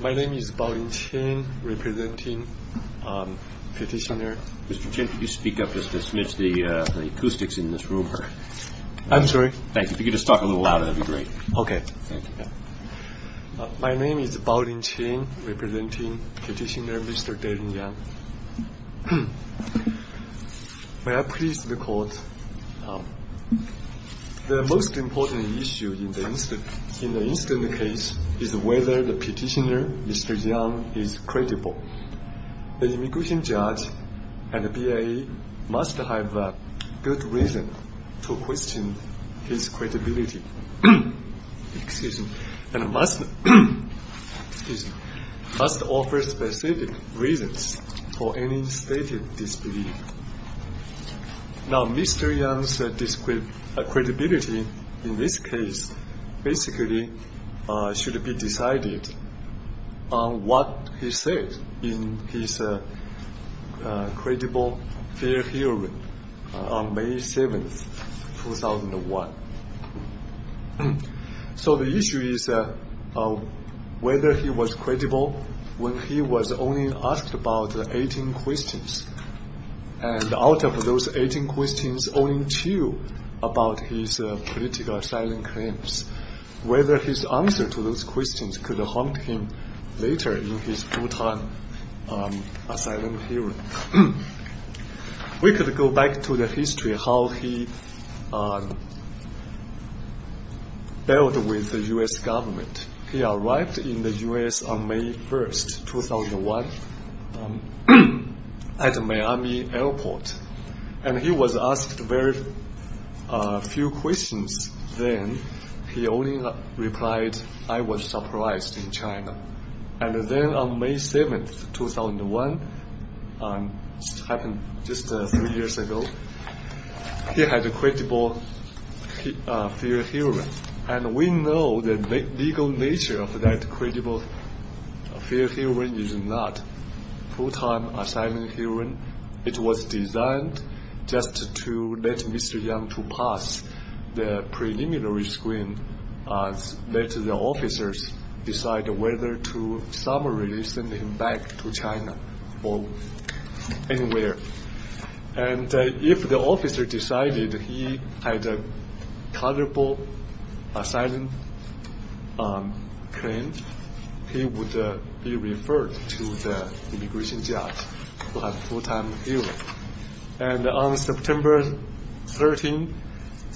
My name is Bao-Lin Chen, representing Petitioner Mr. Deling Yang. The most important issue in the incident case is whether the petitioner, Mr. Yang, is credible. Therefore, the immigration judge and the BIA must have a good reason to question his credibility, and must offer specific reasons for any stated disbelief. Mr. Yang's credibility in this case should be decided on what he said in his credible fair hearing on May 7, 2001. So the issue is whether he was credible when he was only asked about 18 questions. And out of those 18 questions, only two about his political asylum claims. Whether his answer to those questions could haunt him later in his full-time asylum hearing. We could go back to the history of how he dealt with the U.S. government. He arrived in the U.S. on May 1, 2001, at the Miami airport. And he was asked very few questions then. He only replied, I was surprised in China. And then on May 7, 2001, just three years ago, he had a credible fair hearing. And we know the legal nature of that credible fair hearing is not a full-time asylum hearing. It was designed just to let Mr. Yang to pass the preliminary screen, and let the officers decide whether to summarily send him back to China or anywhere. And if the officer decided he had a credible asylum claim, he would be referred to the immigration judge who has a full-time hearing. And on September 13,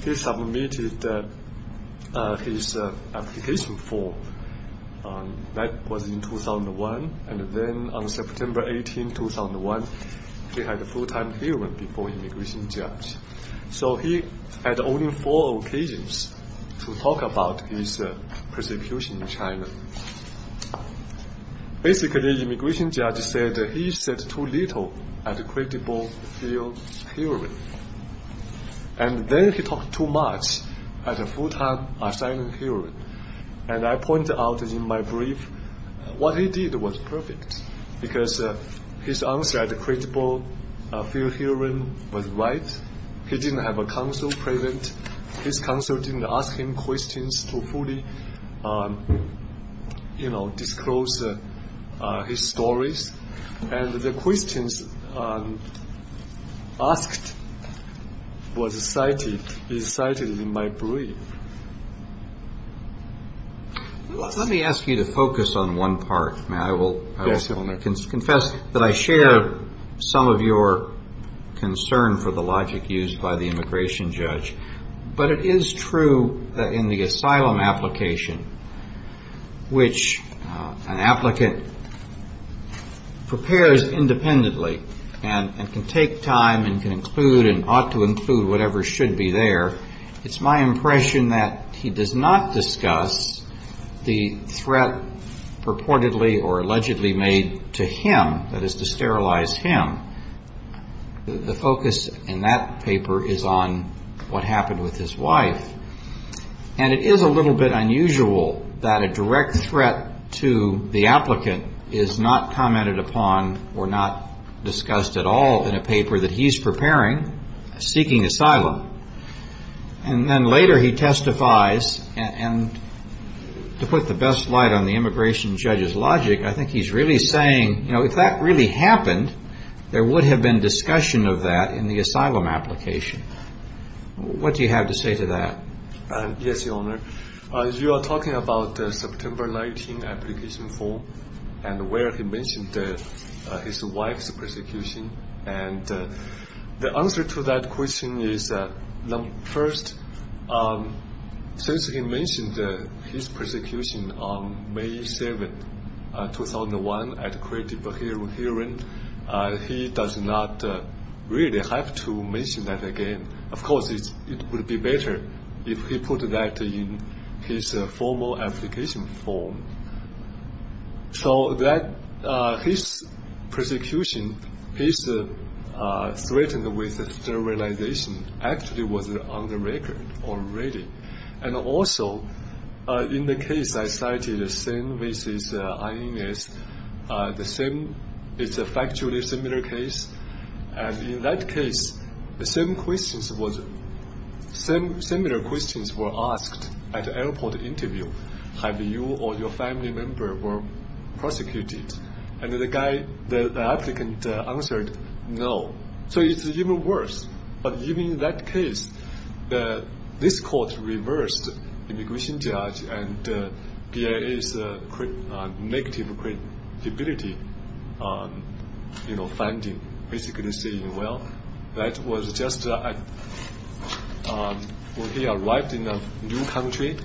he submitted his application form. That was in 2001. And then on September 18, 2001, he had a full-time hearing before the immigration judge. So he had only four occasions to talk about his persecution in China. Basically, the immigration judge said he said too little at the credible fair hearing. And then he talked too much at a full-time asylum hearing. And I pointed out in my brief, what he did was perfect, because his answer at the credible fair hearing was right. He didn't have a counsel present. His counsel didn't ask him questions to fully disclose his stories. And the questions asked was cited in my brief. Let me ask you to focus on one part, Matt. Yes, sir. I want to confess that I share some of your concern for the logic used by the immigration judge. But it is true in the asylum application, which an applicant prepares independently and can take time and can include and ought to include whatever should be there. It's my impression that he does not discuss the threat purportedly or allegedly made to him, that is to sterilize him. The focus in that paper is on what happened with his wife. And it is a little bit unusual that a direct threat to the applicant is not commented upon or not discussed at all in a paper that he's preparing, seeking asylum. And then later he testifies. And to put the best light on the immigration judge's logic, I think he's really saying, you know, if that really happened, there would have been discussion of that in the asylum application. What do you have to say to that? Yes, Your Honor. You are talking about the September 19 application form and where he mentioned his wife's persecution. And the answer to that question is, first, since he mentioned his persecution on May 7, 2001, at a creative hearing, he does not really have to mention that again. Of course, it would be better if he put that in his formal application form. So that his persecution, his threat with sterilization, actually was on the record already. And also, in the case I cited, Sen v. INS, it's a factually similar case. And in that case, similar questions were asked at the airport interview. Have you or your family member been prosecuted? And the applicant answered, no. So it's even worse. But even in that case, this court reversed the immigration judge and BIA's negative credibility finding. Basically saying, well, that was just when he arrived in a new country.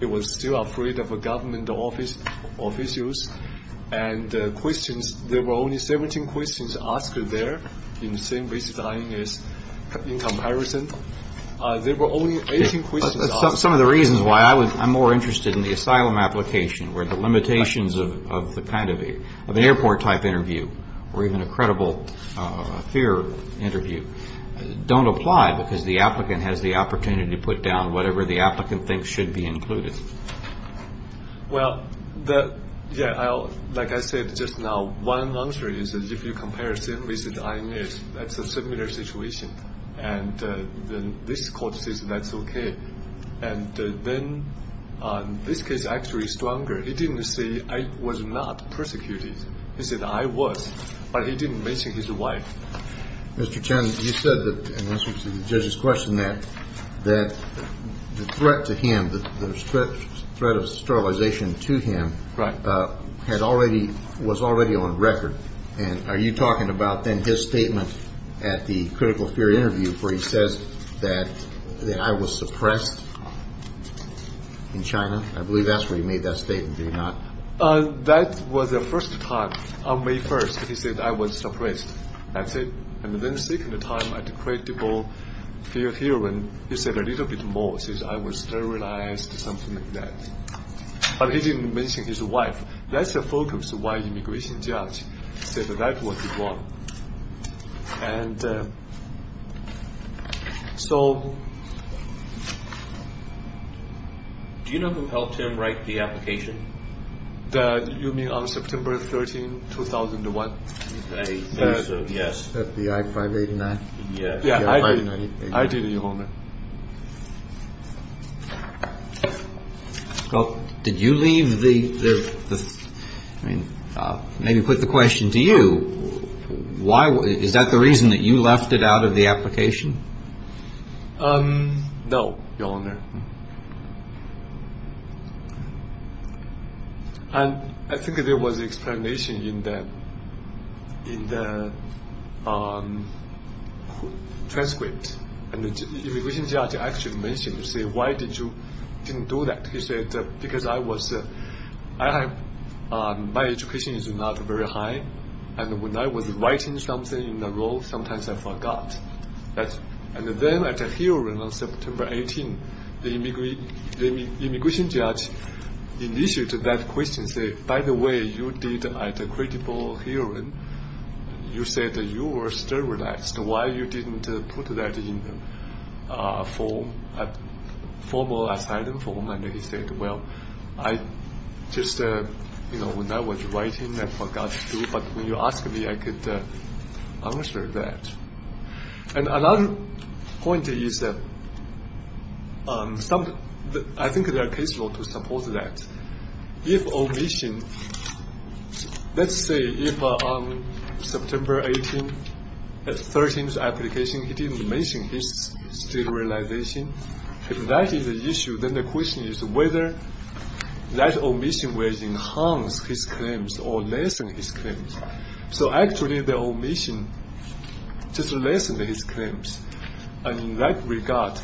He was still afraid of government officials. And there were only 17 questions asked there in Sen v. INS in comparison. There were only 18 questions asked. Some of the reasons why I'm more interested in the asylum application, where the limitations of an airport-type interview, or even a credible fear interview, don't apply. Because the applicant has the opportunity to put down whatever the applicant thinks should be included. Well, like I said just now, one answer is, if you compare Sen v. INS, that's a similar situation. And this court says that's okay. And then this case is actually stronger. He didn't say, I was not persecuted. He said, I was. But he didn't mention his wife. Mr. Chen, you said, in answer to the judge's question, that the threat to him, the threat of sterilization to him, was already on record. And are you talking about then his statement at the critical fear interview, where he says that I was suppressed in China? I believe that's where he made that statement, did he not? That was the first time. On May 1st, he said, I was suppressed. That's it. And then the second time at the credible fear hearing, he said a little bit more. He said, I was sterilized, something like that. But he didn't mention his wife. That's the focus of why the immigration judge said that was the one. And so. Do you know who helped him write the application? You mean on September 13, 2001? Yes. FBI 589. Yes. Yeah, I did. Well, did you leave the, I mean, maybe put the question to you, why, is that the reason that you left it out of the application? No, Your Honor. And I think there was explanation in the, in the transcript, in the judge's transcript. The immigration judge actually mentioned, say, why did you didn't do that? He said, because I was, I have, my education is not very high. And when I was writing something in the role, sometimes I forgot. And then at a hearing on September 18, the immigration judge initiated that question, say, by the way, you did at a credible hearing, you said that you were sterilized. Why you didn't put that in a form, a formal asylum form? And he said, well, I just, you know, when I was writing, I forgot to. But when you asked me, I could answer that. And another point is that some, I think there are case law to support that. If omission, let's say if on September 18, the 13th application, he didn't mention his sterilization. If that is an issue, then the question is whether that omission will enhance his claims or lessen his claims. So actually the omission just lessened his claims. And in that regard,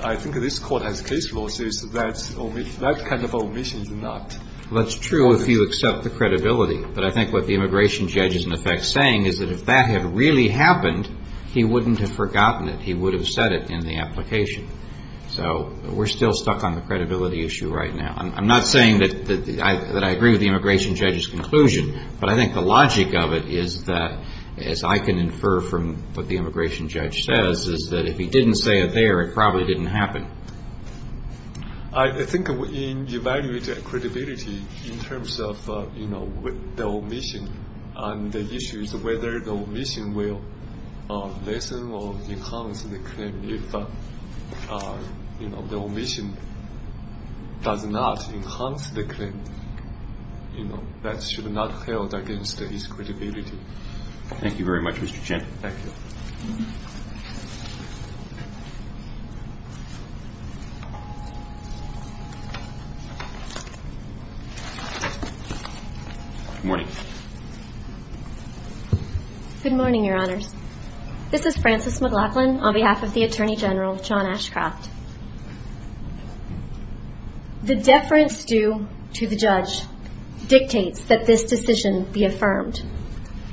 I think this court has case laws that that kind of omission is not. That's true if you accept the credibility. But I think what the immigration judge is in effect saying is that if that had really happened, he wouldn't have forgotten it. He would have said it in the application. So we're still stuck on the credibility issue right now. I'm not saying that I agree with the immigration judge's conclusion. But I think the logic of it is that, as I can infer from what the immigration judge says, is that if he didn't say it there, it probably didn't happen. I think in evaluating credibility in terms of, you know, the omission, and the issues of whether the omission will lessen or enhance the claim, and if the omission does not enhance the claim, you know, that should not hold against his credibility. Thank you very much, Mr. Chen. Thank you. Good morning. Good morning, Your Honors. This is Frances McLaughlin on behalf of the Attorney General, John Ashcroft. The deference due to the judge dictates that this decision be affirmed.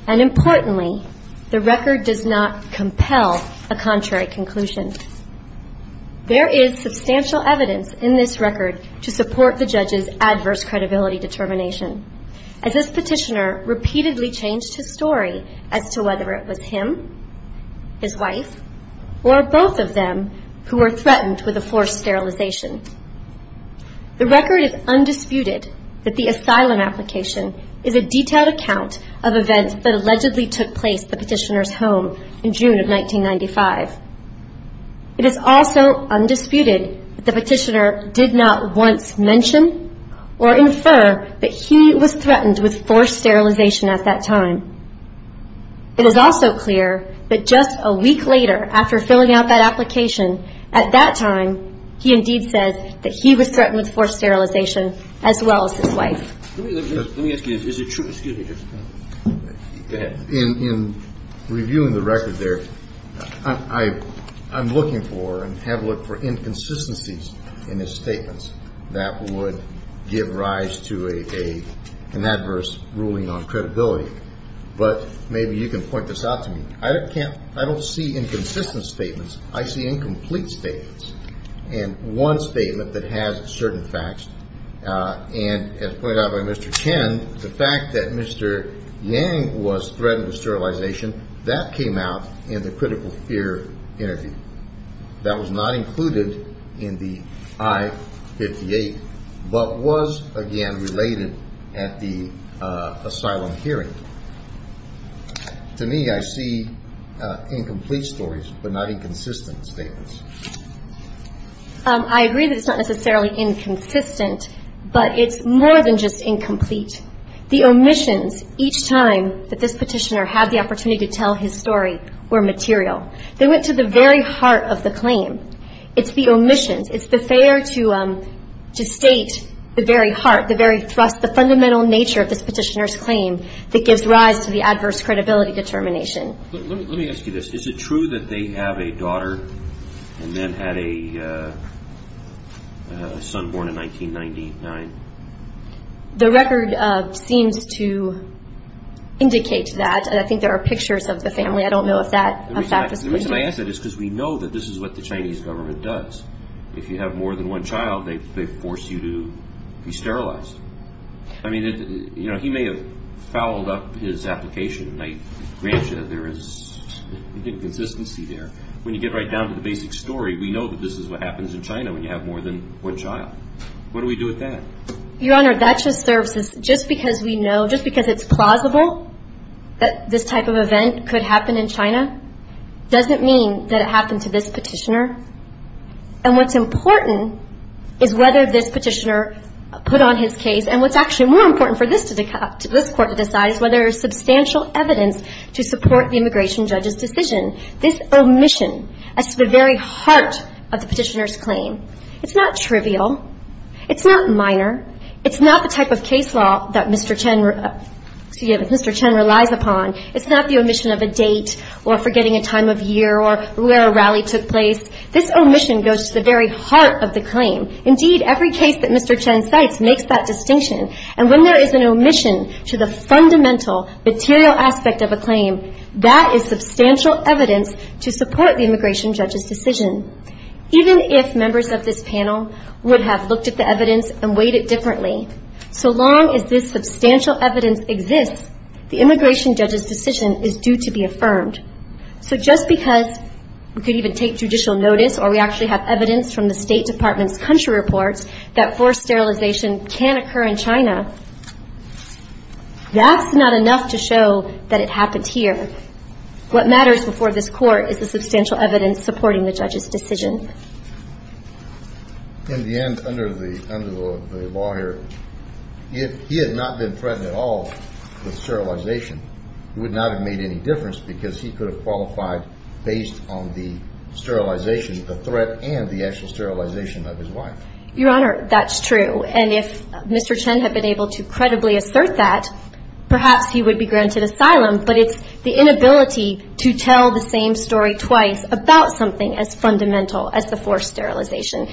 And importantly, the record does not compel a contrary conclusion. There is substantial evidence in this record to support the judge's adverse credibility determination. As this petitioner repeatedly changed his story as to whether it was him, his wife, or both of them who were threatened with a forced sterilization. The record is undisputed that the asylum application is a detailed account of events that allegedly took place at the petitioner's home in June of 1995. It is also undisputed that the petitioner did not once mention or infer that he was threatened with forced sterilization at that time. It is also clear that just a week later after filling out that application, at that time, he indeed said that he was threatened with forced sterilization as well as his wife. Let me ask you, is it true? Excuse me. Go ahead. In reviewing the record there, I'm looking for and have looked for inconsistencies in his statements that would give rise to an adverse ruling on credibility. But maybe you can point this out to me. I don't see inconsistent statements. I see incomplete statements. And one statement that has certain facts, and as pointed out by Mr. Chen, and the fact that Mr. Yang was threatened with sterilization, that came out in the critical fear interview. That was not included in the I-58, but was, again, related at the asylum hearing. To me, I see incomplete stories, but not inconsistent statements. I agree that it's not necessarily inconsistent, but it's more than just incomplete. The omissions each time that this petitioner had the opportunity to tell his story were material. They went to the very heart of the claim. It's the omissions. It's the failure to state the very heart, the very thrust, the fundamental nature of this petitioner's claim that gives rise to the adverse credibility determination. Let me ask you this. Is it true that they have a daughter and then had a son born in 1999? The record seems to indicate that. I think there are pictures of the family. I don't know if that was the case. The reason I ask that is because we know that this is what the Chinese government does. If you have more than one child, they force you to be sterilized. I mean, you know, he may have fouled up his application. I grant you that there is inconsistency there. When you get right down to the basic story, we know that this is what happens in China when you have more than one child. What do we do with that? Your Honor, that just serves as just because we know, just because it's plausible that this type of event could happen in China doesn't mean that it happened to this petitioner. And what's important is whether this petitioner put on his case and what's actually more important for this court to decide is whether there is substantial evidence to support the immigration judge's decision. This omission is at the very heart of the petitioner's claim. It's not trivial. It's not minor. It's not the type of case law that Mr. Chen relies upon. It's not the omission of a date or forgetting a time of year or where a rally took place. This omission goes to the very heart of the claim. Indeed, every case that Mr. Chen cites makes that distinction. And when there is an omission to the fundamental material aspect of a claim, that is substantial evidence to support the immigration judge's decision. Even if members of this panel would have looked at the evidence and weighed it differently, so long as this substantial evidence exists, the immigration judge's decision is due to be affirmed. So just because we could even take judicial notice or we actually have evidence from the State Department's country reports that forced sterilization can occur in China, that's not enough to show that it happened here. What matters before this court is the substantial evidence supporting the judge's decision. In the end, under the law here, if he had not been threatened at all with sterilization, it would not have made any difference because he could have qualified based on the sterilization, the threat and the actual sterilization of his wife. Your Honor, that's true. And if Mr. Chen had been able to credibly assert that, perhaps he would be granted asylum. But it's the inability to tell the same story twice about something as fundamental as the forced sterilization.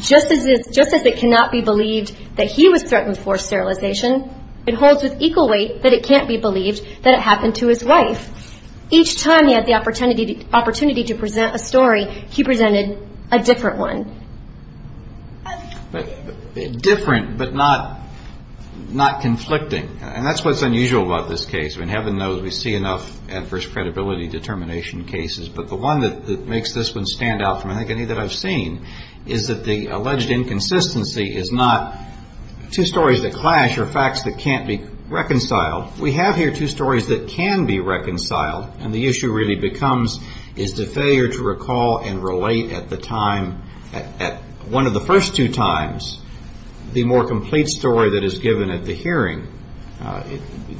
Just as it cannot be believed that he was threatened with forced sterilization, it holds with equal weight that it can't be believed that it happened to his wife. Each time he had the opportunity to present a story, he presented a different one. Different but not conflicting, and that's what's unusual about this case. I mean, heaven knows we see enough adverse credibility determination cases, but the one that makes this one stand out from I think any that I've seen is that the alleged inconsistency is not two stories that clash or facts that can't be reconciled. We have here two stories that can be reconciled, and the issue really becomes is the failure to recall and relate at the time, at one of the first two times, the more complete story that is given at the hearing.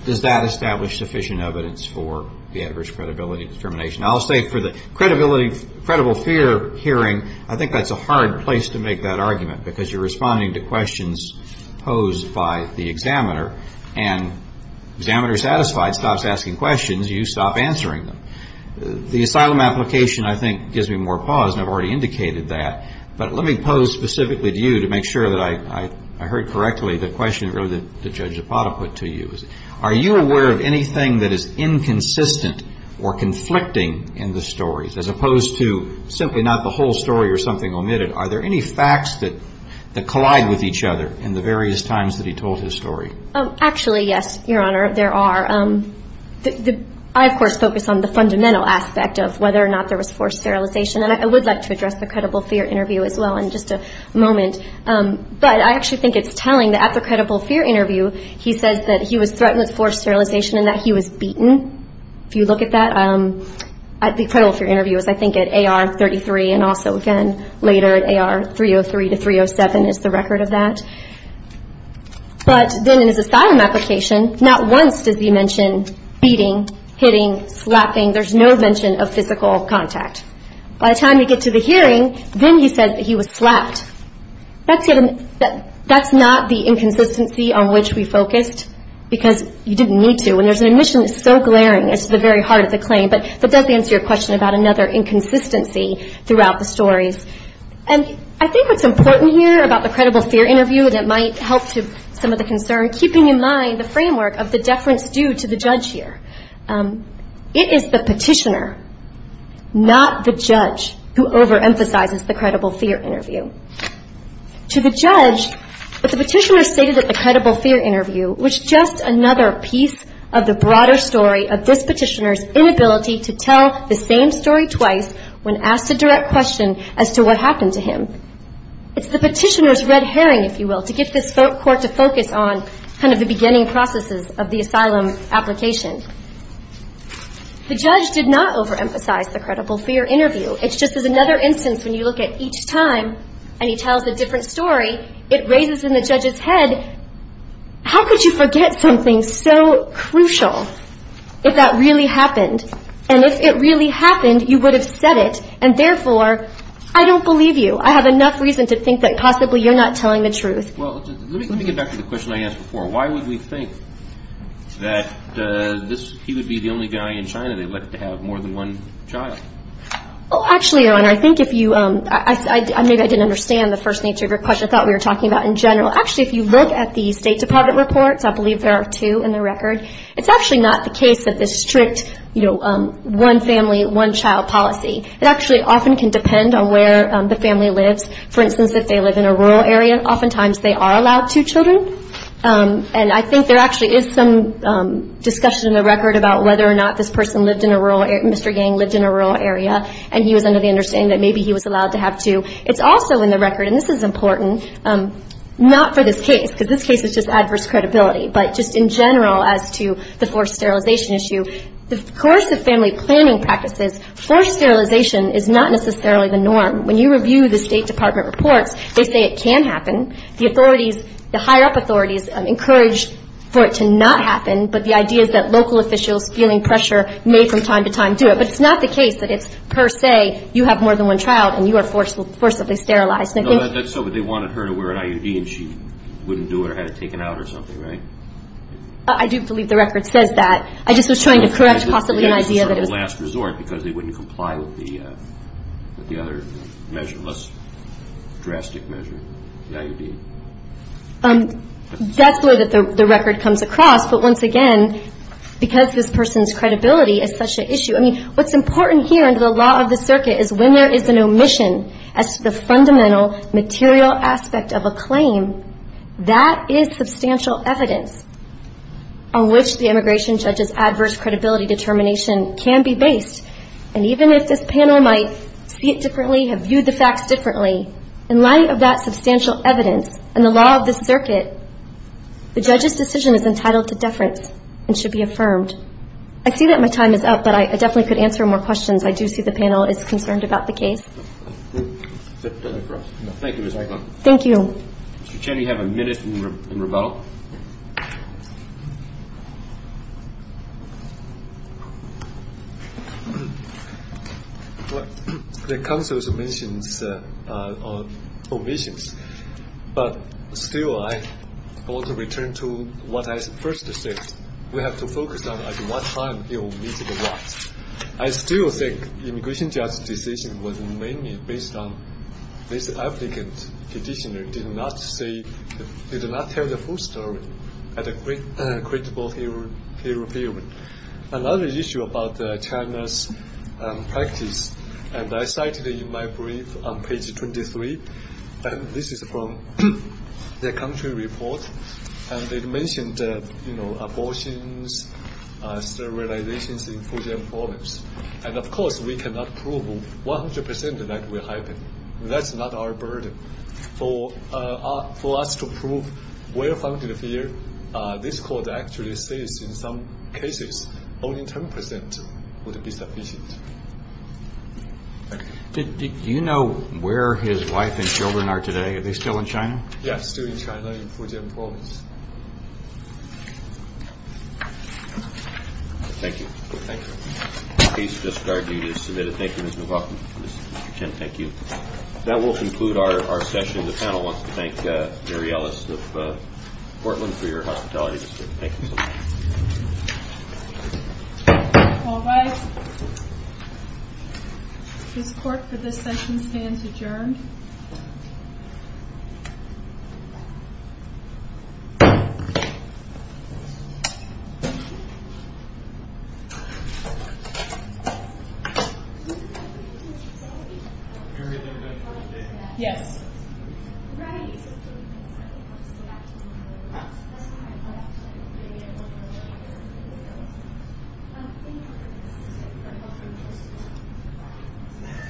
Does that establish sufficient evidence for the adverse credibility determination? I'll say for the credibility, credible fear hearing, I think that's a hard place to make that argument because you're responding to questions posed by the examiner, and examiner satisfied stops asking questions, you stop answering them. The asylum application, I think, gives me more pause, and I've already indicated that, but let me pose specifically to you to make sure that I heard correctly the question really that Judge Zapata put to you. Are you aware of anything that is inconsistent or conflicting in the stories, as opposed to simply not the whole story or something omitted? Are there any facts that collide with each other in the various times that he told his story? Actually, yes, Your Honor, there are. I, of course, focus on the fundamental aspect of whether or not there was forced sterilization, and I would like to address the credible fear interview as well in just a moment, but I actually think it's telling that at the credible fear interview, he says that he was threatened with forced sterilization and that he was beaten. If you look at that, the credible fear interview is, I think, at AR 33, and also again later at AR 303 to 307 is the record of that. But then in his asylum application, not once does he mention beating, hitting, slapping. There's no mention of physical contact. By the time we get to the hearing, then he says that he was slapped. That's not the inconsistency on which we focused because you didn't need to, and there's an admission that's so glaring as to the very heart of the claim, but that does answer your question about another inconsistency throughout the stories. And I think what's important here about the credible fear interview that might help to some of the concern, keeping in mind the framework of the deference due to the judge here, it is the petitioner, not the judge, who overemphasizes the credible fear interview. To the judge, what the petitioner stated at the credible fear interview was just another piece of the broader story of this petitioner's inability to tell the same story twice when asked a direct question as to what happened to him. It's the petitioner's red herring, if you will, to get this court to focus on kind of the beginning processes of the asylum application. The judge did not overemphasize the credible fear interview. It's just another instance when you look at each time and he tells a different story, it raises in the judge's head, how could you forget something so crucial if that really happened? And if it really happened, you would have said it, and therefore, I don't believe you. I have enough reason to think that possibly you're not telling the truth. Well, let me get back to the question I asked before. Why would we think that he would be the only guy in China they elected to have more than one child? Well, actually, Your Honor, I think if you – maybe I didn't understand the first nature of your question. I thought we were talking about in general. Actually, if you look at the State Department reports, I believe there are two in the record, it's actually not the case that this strict, you know, one family, one child policy. It actually often can depend on where the family lives. For instance, if they live in a rural area, oftentimes they are allowed two children. And I think there actually is some discussion in the record about whether or not this person lived in a rural area, Mr. Yang lived in a rural area, and he was under the understanding that maybe he was allowed to have two. It's also in the record, and this is important, not for this case, because this case is just adverse credibility, but just in general as to the forced sterilization issue. The coercive family planning practices, forced sterilization is not necessarily the norm. When you review the State Department reports, they say it can happen. The authorities, the higher-up authorities encourage for it to not happen, but the idea is that local officials feeling pressure may from time to time do it. But it's not the case that it's per se you have more than one child and you are forcibly sterilized. So they wanted her to wear an IUD and she wouldn't do it or had it taken out or something, right? I do believe the record says that. I just was trying to correct possibly an idea that it was. because they wouldn't comply with the other measure, less drastic measure, the IUD. That's where the record comes across, but once again, because this person's credibility is such an issue. I mean, what's important here under the law of the circuit is when there is an omission as to the fundamental material aspect of a claim, that is substantial evidence on which the immigration judge's adverse credibility determination can be based. And even if this panel might see it differently, have viewed the facts differently, in light of that substantial evidence and the law of the circuit, the judge's decision is entitled to deference and should be affirmed. I see that my time is up, but I definitely could answer more questions. I do see the panel is concerned about the case. Thank you, Ms. Reichlein. Thank you. Mr. Chen, you have a minute in rebuttal. The counsel's omissions, but still I want to return to what I first said. We have to focus on at what time it will meet the rights. I still think the immigration judge's decision was mainly based on this applicant's condition and did not tell the full story at a credible hearing period. Another issue about China's practice, and I cited in my brief on page 23, this is from the country report, and it mentioned abortions, sterilizations in Fujian province. And, of course, we cannot prove 100% that will happen. That's not our burden. For us to prove well-founded fear, this court actually says in some cases only 10% would be sufficient. Do you know where his wife and children are today? Are they still in China? Yes, still in China, in Fujian province. Thank you. Thank you. The case has just started. You need to submit it. Thank you, Ms. McLaughlin. Mr. Chen, thank you. That will conclude our session. The panel wants to thank Mary Ellis of Portland for your hospitality. Thank you so much. All right. This court, for this session, stands adjourned. Thank you.